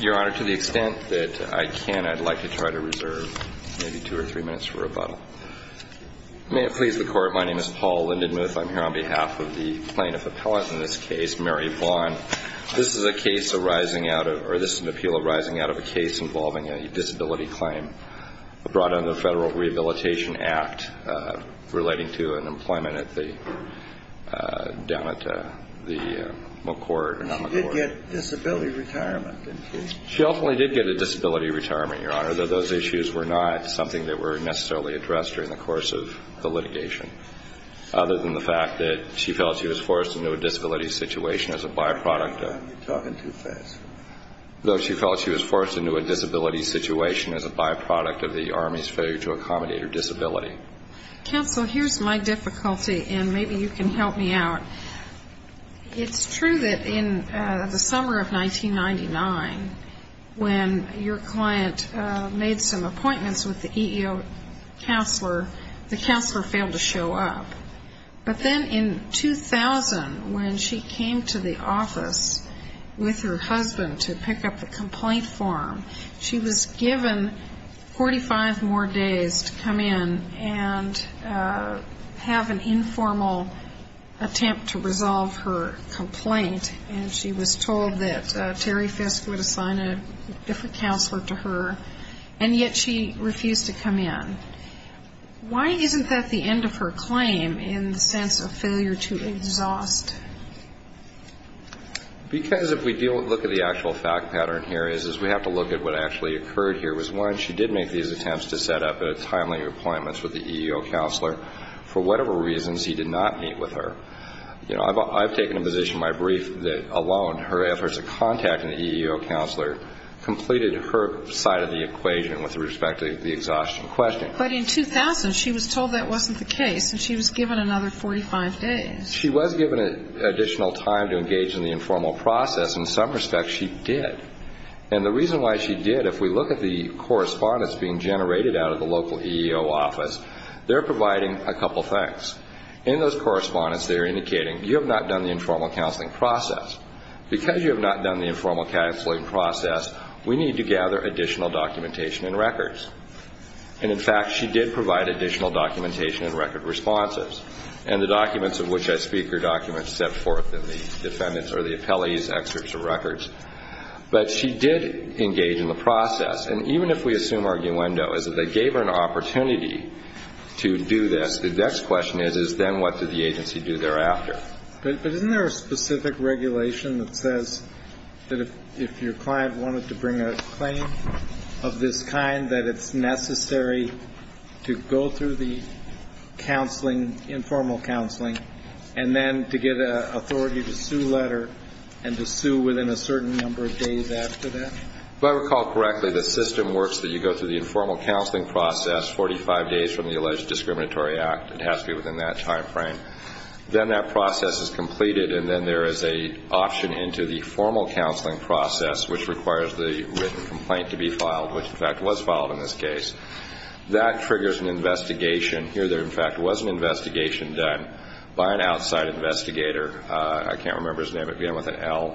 Your Honor, to the extent that I can, I'd like to try to reserve maybe two or three minutes for rebuttal. May it please the Court, my name is Paul Lindenmuth. I'm here on behalf of the plaintiff appellate in this case, Mary Vaughn. This is a case arising out of, or this is an appeal arising out of a case involving a disability claim brought under the Federal Rehabilitation Act relating to an employment down at the McCourt. She did get disability retirement, didn't she? She ultimately did get a disability retirement, Your Honor, though those issues were not something that were necessarily addressed during the course of the litigation, other than the fact that she felt she was forced into a disability situation as a byproduct of the Army's failure to accommodate her disability. Counsel, here's my difficulty, and maybe you can help me out. It's true that in the summer of 1999, when your client made some appointments with the EEO counselor, the counselor failed to show up. But then in 2000, when she came to the office with her husband to pick up the complaint form, she was given 45 more days to come in and have an informal attempt to resolve her complaint, and she was told that Terry Fisk would assign a different counselor to her, and yet she refused to come in. Why isn't that the end of her claim in the sense of failure to exhaust? Because if we look at the actual fact pattern here is we have to look at what actually occurred here was, one, she did make these attempts to set up a timely appointment with the EEO counselor. For whatever reasons, he did not meet with her. You know, I've taken a position in my brief that alone her efforts of contacting the EEO counselor completed her side of the equation with respect to the exhaustion question. But in 2000, she was told that wasn't the case, and she was given another 45 days. She was given additional time to engage in the informal process. In some respects, she did. And the reason why she did, if we look at the correspondence being generated out of the local EEO office, they're providing a couple things. In those correspondence, they're indicating you have not done the informal counseling process. Because you have not done the informal counseling process, we need to gather additional documentation and records. And, in fact, she did provide additional documentation and record responses. And the documents of which I speak are documents set forth in the defendant's or the appellee's excerpts or records. But she did engage in the process. And even if we assume arguendo is that they gave her an opportunity to do this, the next question is, is then what did the agency do thereafter? But isn't there a specific regulation that says that if your client wanted to bring a claim of this kind, that it's necessary to go through the counseling, informal counseling, and then to get an authority to sue letter and to sue within a certain number of days after that? If I recall correctly, the system works that you go through the informal counseling process 45 days from the alleged discriminatory act. It has to be within that time frame. Then that process is completed, and then there is an option into the formal counseling process, which requires the written complaint to be filed, which, in fact, was filed in this case. That triggers an investigation. Here, there, in fact, was an investigation done by an outside investigator. I can't remember his name. It began with an L,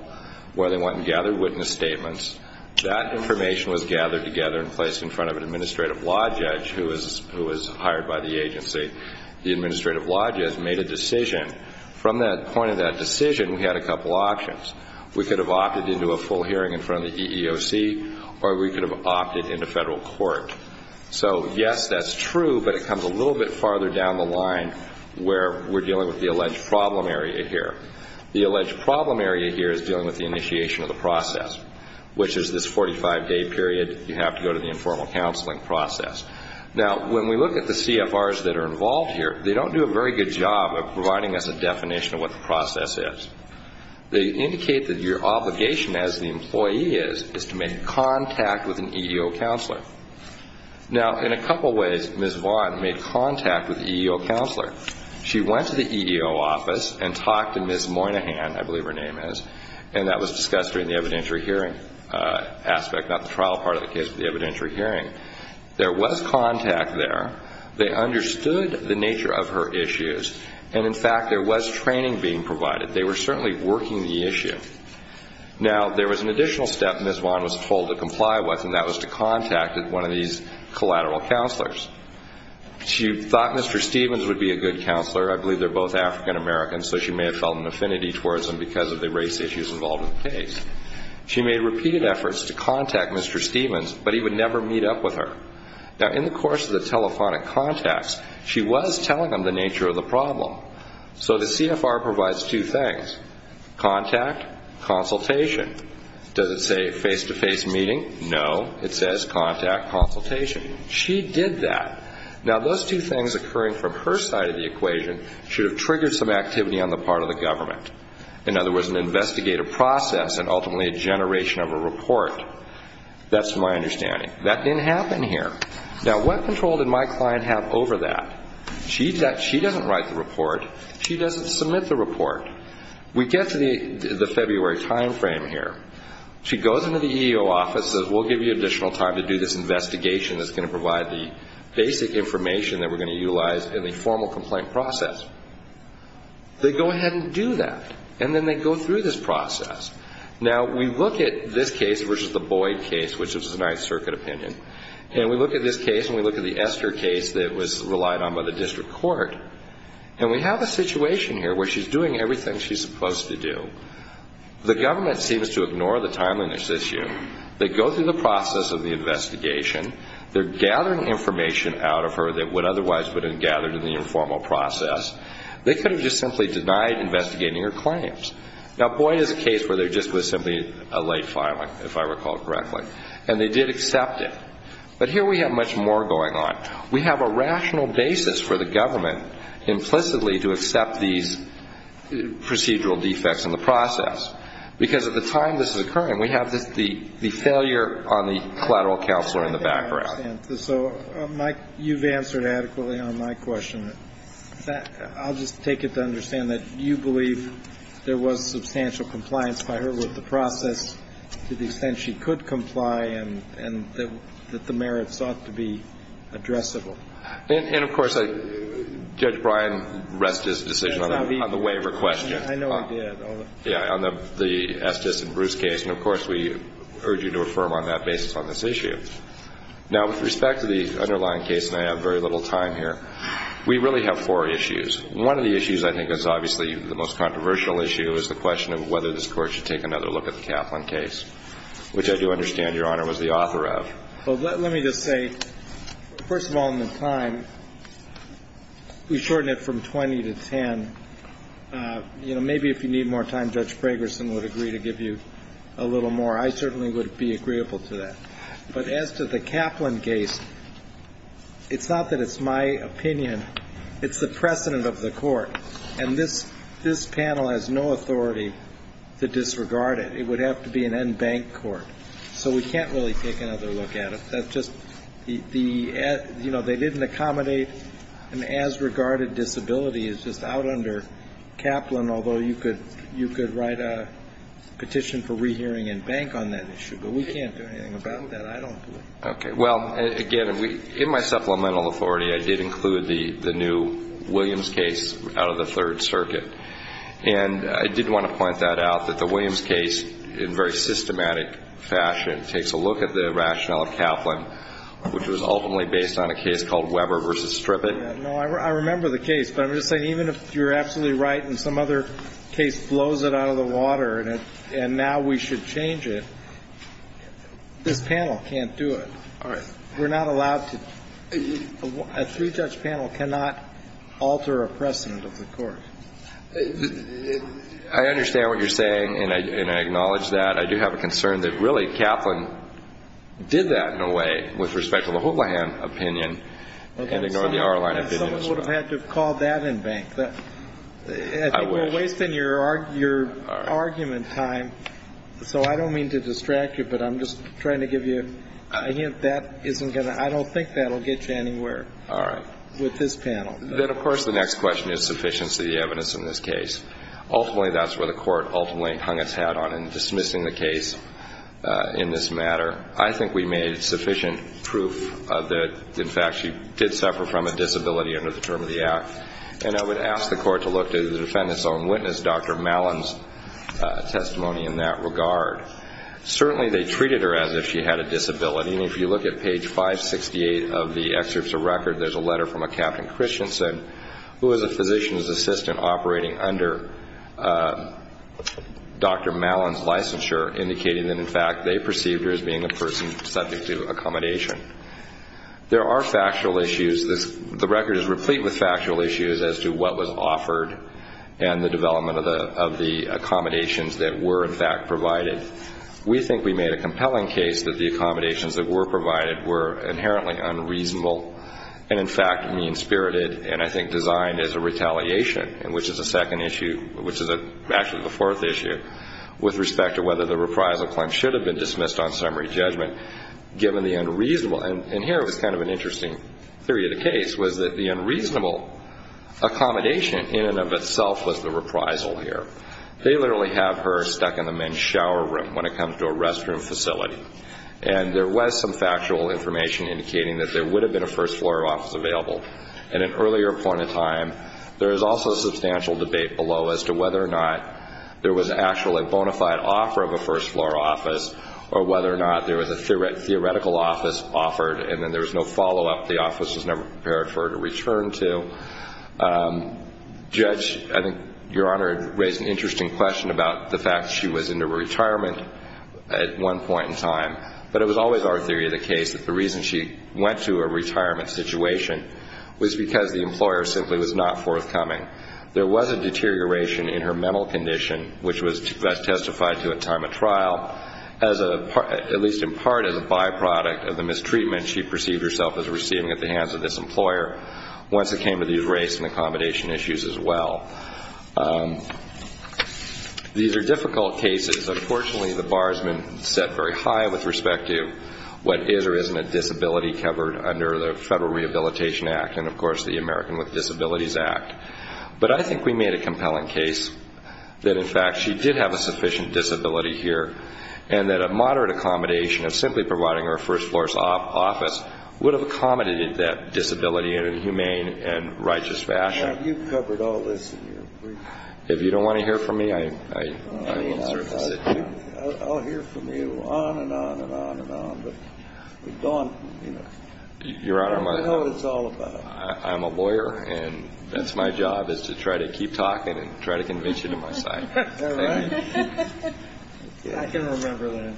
where they went and gathered witness statements. That information was gathered together and placed in front of an administrative law judge who was hired by the agency. The administrative law judge made a decision. From that point of that decision, we had a couple options. We could have opted into a full hearing in front of the EEOC, or we could have opted into federal court. So, yes, that's true, but it comes a little bit farther down the line where we're dealing with the alleged problem area here. The alleged problem area here is dealing with the initiation of the process, which is this 45-day period. You have to go to the informal counseling process. Now, when we look at the CFRs that are involved here, they don't do a very good job of providing us a definition of what the process is. They indicate that your obligation as the employee is to make contact with an EEO counselor. Now, in a couple ways, Ms. Vaughn made contact with the EEO counselor. She went to the EEO office and talked to Ms. Moynihan, I believe her name is, and that was discussed during the evidentiary hearing aspect, not the trial part of the case, but the evidentiary hearing. There was contact there. They understood the nature of her issues, and, in fact, there was training being provided. They were certainly working the issue. Now, there was an additional step Ms. Vaughn was told to comply with, and that was to contact one of these collateral counselors. She thought Mr. Stevens would be a good counselor. I believe they're both African-Americans, so she may have felt an affinity towards them because of the race issues involved in the case. She made repeated efforts to contact Mr. Stevens, but he would never meet up with her. Now, in the course of the telephonic contacts, she was telling them the nature of the problem. So the CFR provides two things, contact, consultation. Does it say face-to-face meeting? No. It says contact, consultation. She did that. Now, those two things occurring from her side of the equation should have triggered some activity on the part of the government. In other words, an investigative process and ultimately a generation of a report. That's my understanding. That didn't happen here. Now, what control did my client have over that? She doesn't write the report. She doesn't submit the report. We get to the February time frame here. She goes into the EEO office, says we'll give you additional time to do this investigation that's going to provide the basic information that we're going to utilize in the formal complaint process. They go ahead and do that, and then they go through this process. Now, we look at this case versus the Boyd case, which was a Ninth Circuit opinion, and we look at this case and we look at the Esther case that was relied on by the district court, and we have a situation here where she's doing everything she's supposed to do. The government seems to ignore the timeliness issue. They go through the process of the investigation. They're gathering information out of her that would otherwise have been gathered in the informal process. They could have just simply denied investigating her claims. Now, Boyd is a case where there just was simply a late filing, if I recall correctly, and they did accept it. But here we have much more going on. We have a rational basis for the government implicitly to accept these procedural defects in the process, because at the time this is occurring, we have the failure on the collateral counselor in the background. So, Mike, you've answered adequately on my question. I'll just take it to understand that you believe there was substantial compliance by her with the process to the extent she could comply and that the merits ought to be addressable. And, of course, Judge Bryan rest his decision on the waiver question. I know he did. Yeah, on the Estes and Bruce case. And, of course, we urge you to affirm on that basis on this issue. Now, with respect to the underlying case, and I have very little time here, we really have four issues. One of the issues I think is obviously the most controversial issue is the question of whether this Court should take another look at the Kaplan case, which I do understand, Your Honor, was the author of. Well, let me just say, first of all, in the time, we shorten it from 20 to 10. You know, maybe if you need more time, Judge Fragerson would agree to give you a little more. I certainly would be agreeable to that. But as to the Kaplan case, it's not that it's my opinion. It's the precedent of the Court. And this panel has no authority to disregard it. It would have to be an en banc court. So we can't really take another look at it. That's just the, you know, they didn't accommodate an as-regarded disability. It's just out under Kaplan, although you could write a petition for rehearing en banc on that issue. But we can't do anything about that. I don't believe. Okay. Well, again, in my supplemental authority, I did include the new Williams case out of the Third Circuit. And I did want to point that out, that the Williams case, in very systematic fashion, takes a look at the rationale of Kaplan, which was ultimately based on a case called Weber v. Strippett. No. I remember the case. But I'm just saying, even if you're absolutely right and some other case blows it out of the water and now we should change it, this panel can't do it. All right. We're not allowed to. A three-judge panel cannot alter a precedent of the Court. I understand what you're saying, and I acknowledge that. I do have a concern that, really, Kaplan did that in a way with respect to the Hooplahan opinion and ignored the Arline opinion. Someone would have had to have called that en banc. I will. I think we're wasting your argument time, so I don't mean to distract you, but I'm just trying to give you a hint. I don't think that will get you anywhere with this panel. Then, of course, the next question is sufficiency of the evidence in this case. Ultimately, that's where the Court ultimately hung its hat on in dismissing the case in this matter. I think we made sufficient proof that, in fact, she did suffer from a disability under the term of the Act, and I would ask the Court to look to the defendant's own witness, Dr. Mallon's testimony in that regard. Certainly they treated her as if she had a disability, and if you look at page 568 of the excerpts of record, there's a letter from a Captain Christensen, who was a physician's assistant operating under Dr. Mallon's licensure, indicating that, in fact, they perceived her as being a person subject to accommodation. There are factual issues. The record is replete with factual issues as to what was offered and the development of the accommodations that were, in fact, provided. We think we made a compelling case that the accommodations that were provided were inherently unreasonable and, in fact, mean-spirited and, I think, designed as a retaliation, which is a second issue, which is actually the fourth issue, with respect to whether the reprisal claim should have been dismissed on summary judgment, given the unreasonable. And here was kind of an interesting theory of the case, was that the unreasonable accommodation in and of itself was the reprisal here. They literally have her stuck in the men's shower room when it comes to a restroom facility, and there was some factual information indicating that there would have been a first-floor office available. At an earlier point in time, there was also substantial debate below as to whether or not there was actually a bona fide offer of a first-floor office or whether or not there was a theoretical office offered, and then there was no follow-up. The office was never prepared for her to return to. Judge, I think Your Honor raised an interesting question about the fact she was into retirement at one point in time, but it was always our theory of the case that the reason she went to a retirement situation was because the employer simply was not forthcoming. There was a deterioration in her mental condition, which was best testified to at time of trial, at least in part as a byproduct of the mistreatment she perceived herself as receiving at the hands of this employer. Once it came to these race and accommodation issues as well. These are difficult cases. Unfortunately, the bar has been set very high with respect to what is or isn't a disability covered under the Federal Rehabilitation Act and, of course, the American with Disabilities Act. But I think we made a compelling case that, in fact, she did have a sufficient disability here and that a moderate accommodation of simply providing her a first-floor office would have accommodated that disability in a humane and righteous fashion. Now, you've covered all this in your brief. If you don't want to hear from me, I will sort of sit here. I'll hear from you on and on and on and on, but we've gone, you know, I know what it's all about. I'm a lawyer, and that's my job is to try to keep talking and try to convince you to my side. All right. I can remember that.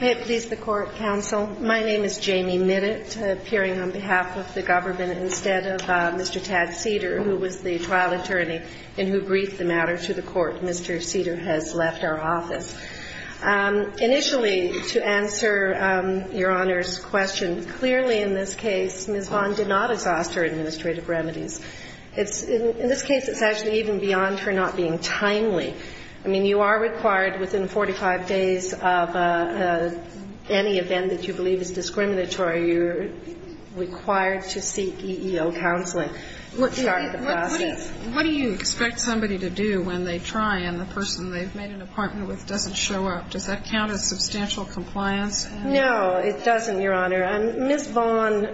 May it please the Court, Counsel. My name is Jamie Minnett, appearing on behalf of the government instead of Mr. Tad Seder, who was the trial attorney and who briefed the matter to the Court. Mr. Seder has left our office. Initially, to answer Your Honor's question, clearly in this case, Ms. Vaughn did not exhaust her administrative remedies. In this case, it's actually even beyond her not being timely. I mean, you are required within 45 days of any event that you believe is discriminatory, you're required to seek EEO counseling to start the process. What do you expect somebody to do when they try and the person they've made an appointment with doesn't show up? Does that count as substantial compliance? No, it doesn't, Your Honor. Ms. Vaughn,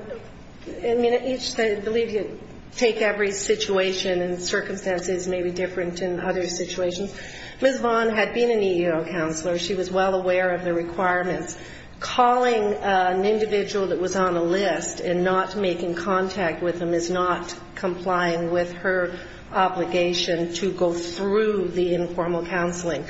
I mean, I believe you take every situation and circumstances may be different in other situations. Ms. Vaughn had been an EEO counselor. She was well aware of the requirements. Calling an individual that was on a list and not making contact with them is not complying with her obligation to go through the informal counseling.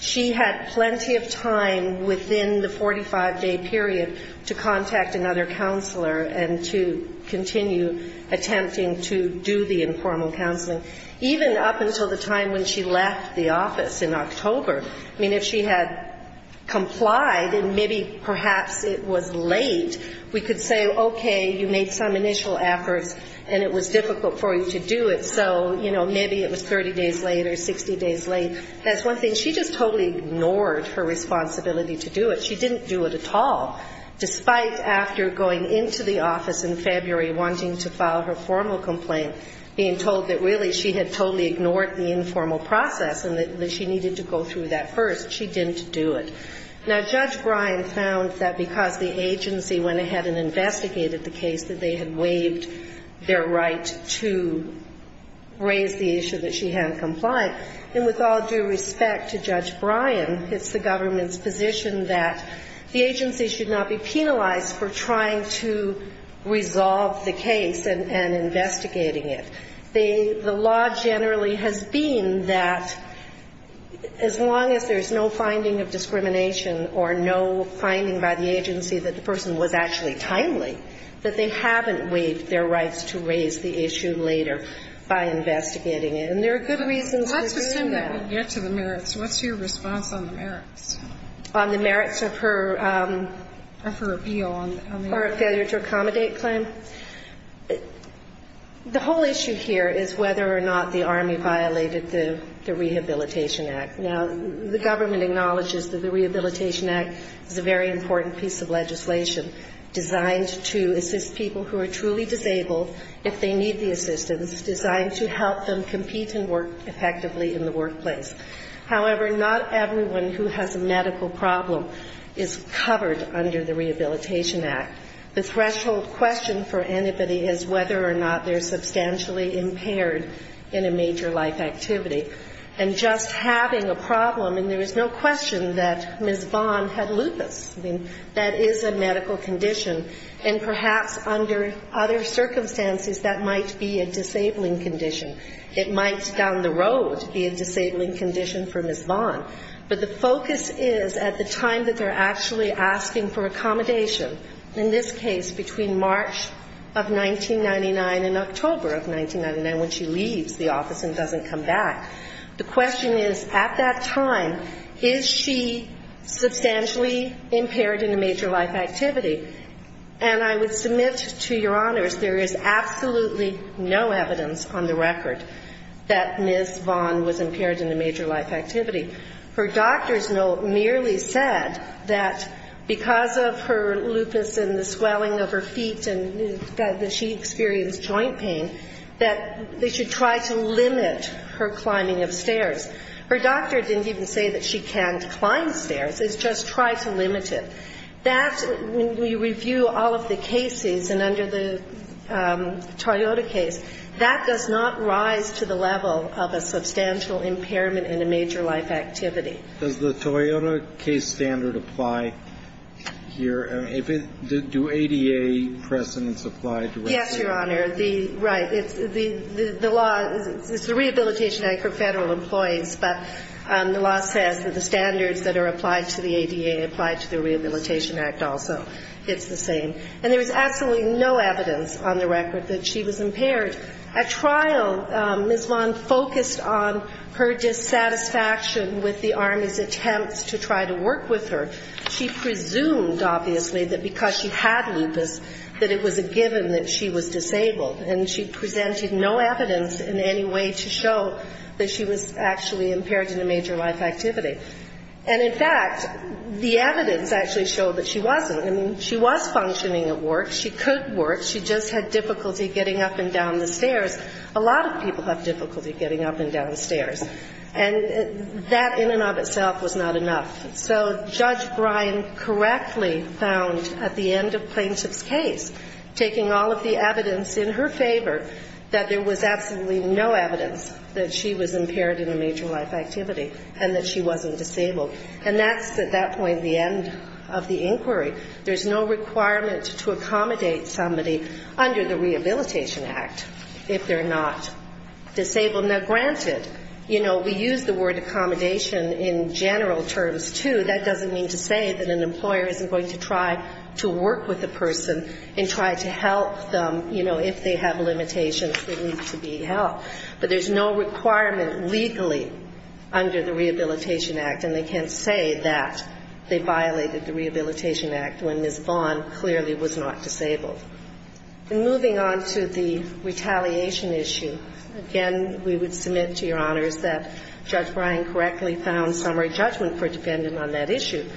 She had plenty of time within the 45-day period to contact another counselor and to continue attempting to do the informal counseling, even up until the time when she left the office in October. I mean, if she had complied and maybe perhaps it was late, we could say, okay, you made some initial efforts and it was difficult for you to do it, so, you know, maybe it was 30 days late or 60 days late. And that's one thing. She just totally ignored her responsibility to do it. She didn't do it at all, despite after going into the office in February wanting to file her formal complaint, being told that really she had totally ignored the informal process and that she needed to go through that first. She didn't do it. Now, Judge Bryan found that because the agency went ahead and investigated the case that they had waived their right to raise the issue that she hadn't complied. And with all due respect to Judge Bryan, it's the government's position that the agency should not be penalized for trying to resolve the case and investigating it. The law generally has been that as long as there's no finding of discrimination or no finding by the agency that the person was actually timely, that they haven't waived their rights to raise the issue later by investigating and there are good reasons for doing that. Let's assume that we get to the merits. What's your response on the merits? On the merits of her appeal on the failure to accommodate claim? The whole issue here is whether or not the Army violated the Rehabilitation Act. Now, the government acknowledges that the Rehabilitation Act is a very important piece of legislation designed to assist people who are truly disabled, if they need the assistance, designed to help them compete and work effectively in the workplace. However, not everyone who has a medical problem is covered under the Rehabilitation Act. The threshold question for anybody is whether or not they're substantially impaired in a major life activity. And just having a problem, and there is no question that Ms. Vaughn had lupus, I mean, that is a medical condition, and perhaps under other circumstances that might be a disabling condition. It might down the road be a disabling condition for Ms. Vaughn. But the focus is at the time that they're actually asking for accommodation, in this case between March of 1999 and October of 1999, when she leaves the office and doesn't come back, the question is, at that time, is she substantially impaired in a major life activity? And I would submit to Your Honors, there is absolutely no evidence on the record that Ms. Vaughn was impaired in a major life activity. Her doctor's note merely said that because of her lupus and the swelling of her feet and that she experienced joint pain, that they should try to limit her climbing of stairs. Her doctor didn't even say that she can't climb stairs. It's just try to limit it. That's when we review all of the cases, and under the Toyota case, that does not rise to the level of a substantial impairment in a major life activity. Does the Toyota case standard apply here? Do ADA precedents apply to it? Yes, Your Honor. Right. The law is the Rehabilitation Act for federal employees, but the law says that the standards that are applied to the ADA apply to the Rehabilitation Act also. It's the same. And there is absolutely no evidence on the record that she was impaired. At trial, Ms. Vaughn focused on her dissatisfaction with the Army's attempts to try to work with her. She presumed, obviously, that because she had lupus, that it was a given that she was disabled. And she presented no evidence in any way to show that she was actually impaired in a major life activity. And, in fact, the evidence actually showed that she wasn't. I mean, she was functioning at work. She could work. She just had difficulty getting up and down the stairs. A lot of people have difficulty getting up and down stairs. And that in and of itself was not enough. So Judge Bryan correctly found at the end of plaintiff's case, taking all of the evidence in her favor, that there was absolutely no evidence that she was impaired in a major life activity and that she wasn't disabled. And that's, at that point, the end of the inquiry. There's no requirement to accommodate somebody under the Rehabilitation Act if they're not disabled. Now, granted, you know, we use the word accommodation in general terms, too. That doesn't mean to say that an employer isn't going to try to work with a person and try to help them, you know, if they have limitations that need to be helped. But there's no requirement legally under the Rehabilitation Act. And they can't say that they violated the Rehabilitation Act when Ms. Vaughn clearly was not disabled. And moving on to the retaliation issue. Again, we would submit to Your Honors that Judge Bryan correctly found summary judgment for a defendant on that issue.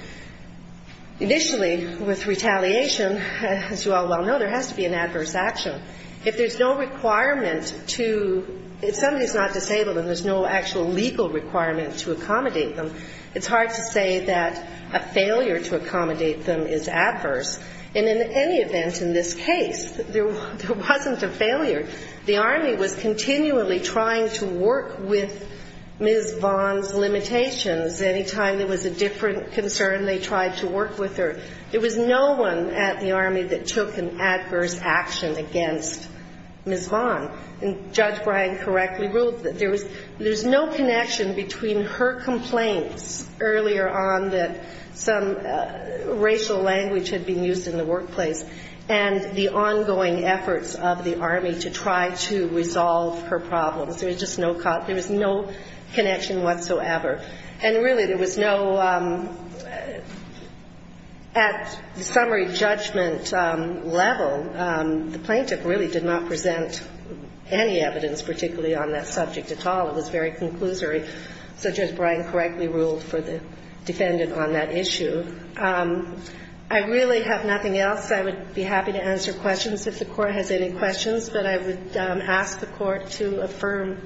Initially, with retaliation, as you all well know, there has to be an adverse action. If there's no requirement to, if somebody's not disabled and there's no actual legal requirement to accommodate them, it's hard to say that a failure to accommodate them is adverse. And in any event in this case, there wasn't a failure. The Army was continually trying to work with Ms. Vaughn's limitations. Any time there was a different concern, they tried to work with her. There was no one at the Army that took an adverse action against Ms. Vaughn. And Judge Bryan correctly ruled that there was no connection between her complaints earlier on that some racial language had been used in the workplace and the ongoing efforts of the Army to try to resolve her problems. There was just no, there was no connection whatsoever. And really there was no, at summary judgment level, the plaintiff really did not present any evidence particularly on that subject at all. It was very conclusory. So Judge Bryan correctly ruled for the defendant on that issue. I really have nothing else. I would be happy to answer questions if the Court has any questions. But I would ask the Court to affirm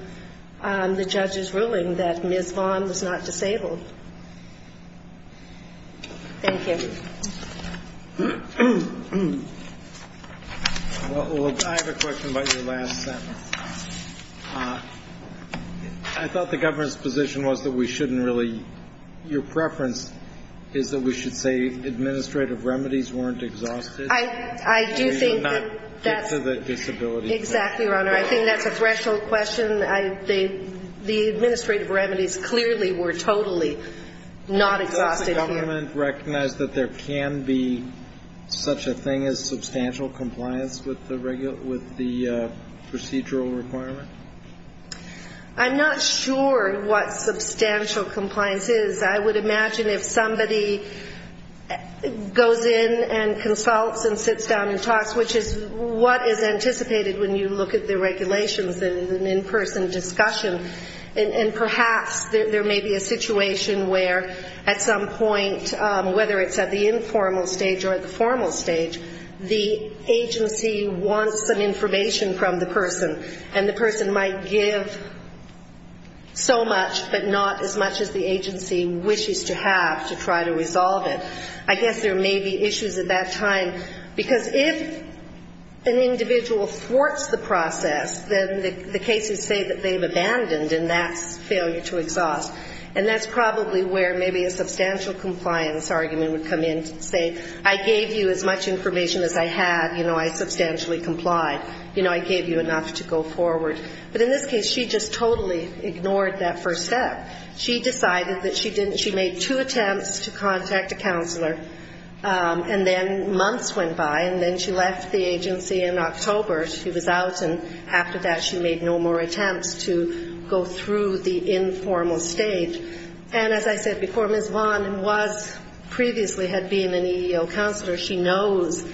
the judge's ruling that Ms. Vaughn was not disabled. Thank you. Well, I have a question about your last sentence. I thought the government's position was that we shouldn't really, your preference is that we should say administrative remedies weren't exhausted. I do think that's. So you did not get to the disability. Exactly, Your Honor. I think that's a threshold question. The administrative remedies clearly were totally not exhausted here. Does the government recognize that there can be such a thing as substantial compliance with the procedural requirement? I'm not sure what substantial compliance is. I would imagine if somebody goes in and consults and sits down and talks, which is what is anticipated when you look at the regulations in an in-person discussion, and perhaps there may be a situation where at some point, whether it's at the informal stage or at the formal stage, the agency wants some information from the person, and the person might give so much but not as much as the agency wishes to have to try to resolve it. I guess there may be issues at that time, because if an individual thwarts the process, then the cases say that they've abandoned, and that's failure to exhaust. And that's probably where maybe a substantial compliance argument would come in and say, I gave you as much information as I had. You know, I substantially complied. You know, I gave you enough to go forward. But in this case, she just totally ignored that first step. She decided that she didn't. She made two attempts to contact a counselor, and then months went by, and then she left the agency in October. She was out, and after that she made no more attempts to go through the informal stage. And as I said before, Ms. Vaughan was previously had been an EEO counselor. She knows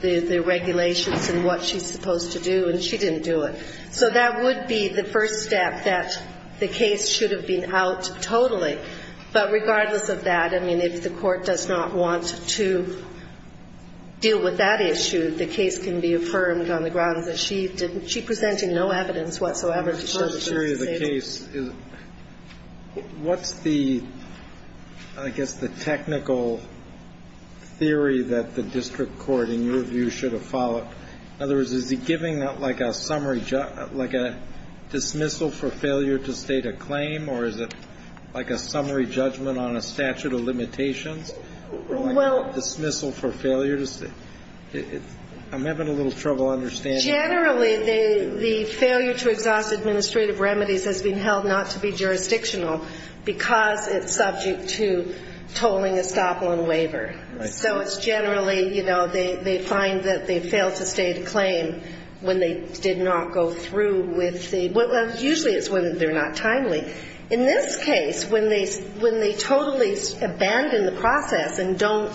the regulations and what she's supposed to do, and she didn't do it. So that would be the first step, that the case should have been out totally. But regardless of that, I mean, if the court does not want to deal with that issue, the case can be affirmed on the grounds that she presented no evidence whatsoever to show that she was disabled. What's the, I guess, the technical theory that the district court, in your view, should have followed? In other words, is it giving like a summary, like a dismissal for failure to state a claim, or is it like a summary judgment on a statute of limitations? Like a dismissal for failure to state? I'm having a little trouble understanding. Generally, the failure to exhaust administrative remedies has been held not to be jurisdictional because it's subject to tolling a stop loan waiver. Right. So it's generally, you know, they find that they failed to state a claim when they did not go through with the, well, usually it's when they're not timely. In this case, when they totally abandon the process and don't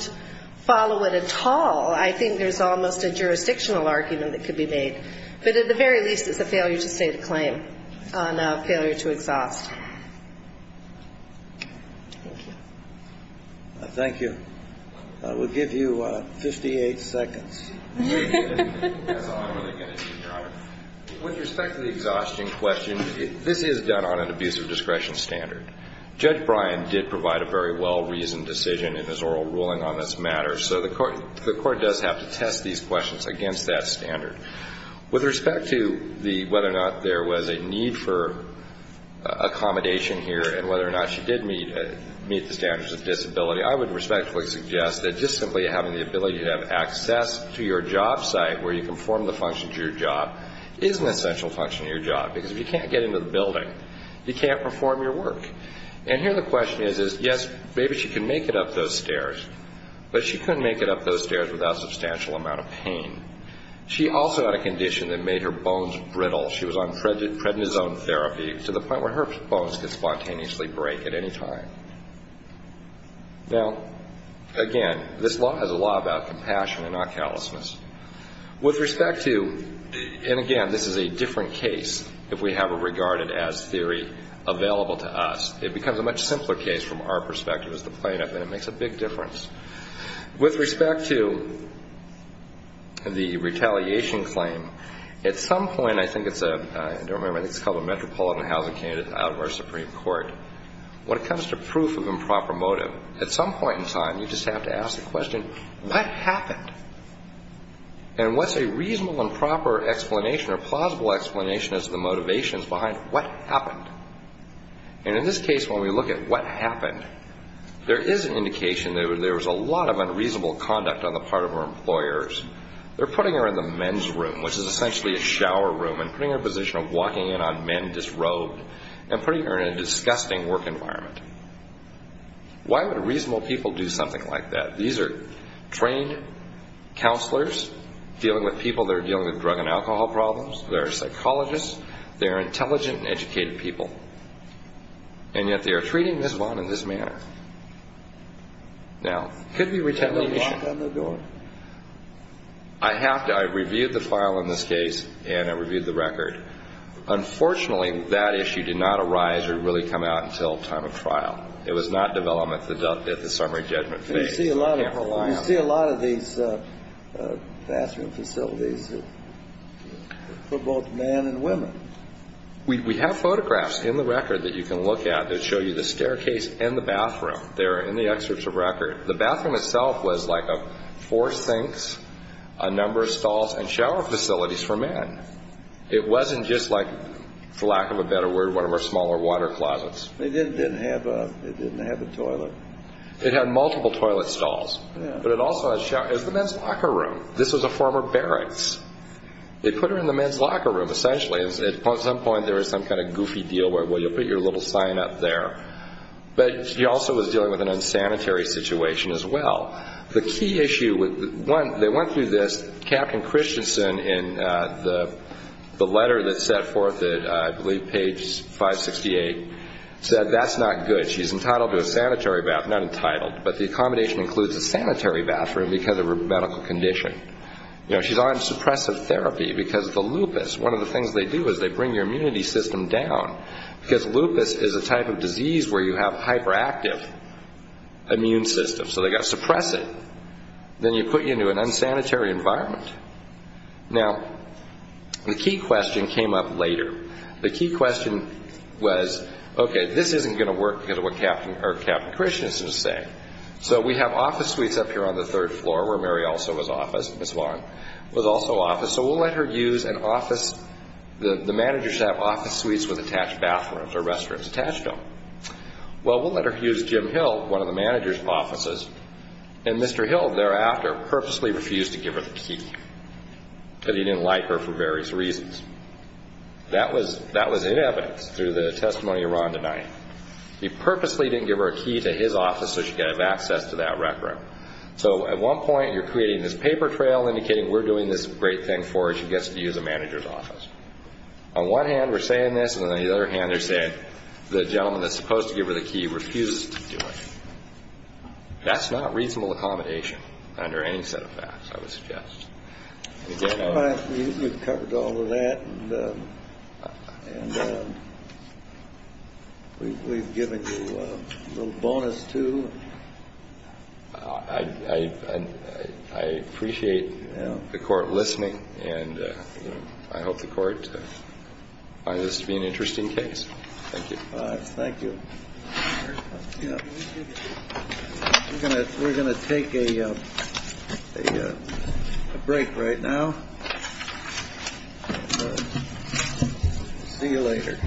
follow it at all, I think there's almost a jurisdictional argument that could be made. But at the very least, it's a failure to state a claim on a failure to exhaust. Thank you. Thank you. We'll give you 58 seconds. That's all I'm really going to do, Your Honor. With respect to the exhaustion question, this is done on an abusive discretion standard. Judge Bryan did provide a very well-reasoned decision in his oral ruling on this matter, so the court does have to test these questions against that standard. With respect to whether or not there was a need for accommodation here and whether or not she did meet the standards of disability, I would respectfully suggest that just simply having the ability to have access to your job site where you conform the function to your job is an essential function of your job because if you can't get into the building, you can't perform your work. And here the question is, yes, maybe she can make it up those stairs, but she couldn't make it up those stairs without a substantial amount of pain. She also had a condition that made her bones brittle. She was on prednisone therapy to the point where her bones could spontaneously break at any time. Now, again, this law has a law about compassion and not callousness. With respect to, and again, this is a different case if we have it regarded as theory available to us. It becomes a much simpler case from our perspective as the plaintiff, and it makes a big difference. With respect to the retaliation claim, at some point I think it's a, I don't remember, I think it's called a metropolitan housing candidate out of our Supreme Court. When it comes to proof of improper motive, at some point in time you just have to ask the question, what happened? And what's a reasonable and proper explanation or plausible explanation as to the motivations behind what happened? And in this case when we look at what happened, there is an indication that there was a lot of unreasonable conduct on the part of her employers. They're putting her in the men's room, which is essentially a shower room, and putting her in a position of walking in on men disrobed and putting her in a disgusting work environment. Why would reasonable people do something like that? These are trained counselors dealing with people that are dealing with drug and alcohol problems. They're psychologists. They're intelligent and educated people. And yet they are treating Ms. Vaughn in this manner. Now, it could be retaliation. I have to, I reviewed the file in this case, and I reviewed the record. Unfortunately, that issue did not arise or really come out until time of trial. It was not developed at the summary judgment phase. So I can't rely on it. You see a lot of these bathroom facilities for both men and women. We have photographs in the record that you can look at that show you the staircase and the bathroom. They're in the excerpts of record. The bathroom itself was like four sinks, a number of stalls, and shower facilities for men. It wasn't just like, for lack of a better word, one of our smaller water closets. It didn't have a toilet. It had multiple toilet stalls. But it also had showers. It was the men's locker room. This was a former barracks. They put her in the men's locker room, essentially. At some point there was some kind of goofy deal where, well, you'll put your little sign up there. But she also was dealing with an unsanitary situation as well. The key issue, they went through this. Captain Christensen, in the letter that's set forth at, I believe, page 568, said that's not good. She's entitled to a sanitary bathroom. Not entitled, but the accommodation includes a sanitary bathroom because of her medical condition. She's on suppressive therapy because of the lupus. One of the things they do is they bring your immunity system down, because lupus is a type of disease where you have hyperactive immune systems. So they've got to suppress it. Then you put you into an unsanitary environment. Now, the key question came up later. The key question was, okay, this isn't going to work because of what Captain Christensen is saying. So we have office suites up here on the third floor where Mary also was office, Ms. Long, was also office. So we'll let her use an office. The managers have office suites with attached bathrooms or restrooms attached to them. Well, we'll let her use Jim Hill, one of the manager's offices, and Mr. Hill thereafter purposely refused to give her the key because he didn't like her for various reasons. That was in evidence through the testimony of Rhonda Knight. He purposely didn't give her a key to his office so she could have access to that rec room. So at one point you're creating this paper trail indicating we're doing this great thing for her. She gets to use the manager's office. On one hand, we're saying this, and on the other hand, they're saying the gentleman that's supposed to give her the key refused to do it. That's not reasonable accommodation under any set of facts, I would suggest. We've covered all of that, and we've given you a little bonus, too. I appreciate the court listening, and I hope the court finds this to be an interesting case. Thank you. All right. Thank you. We're going to take a break right now. See you later.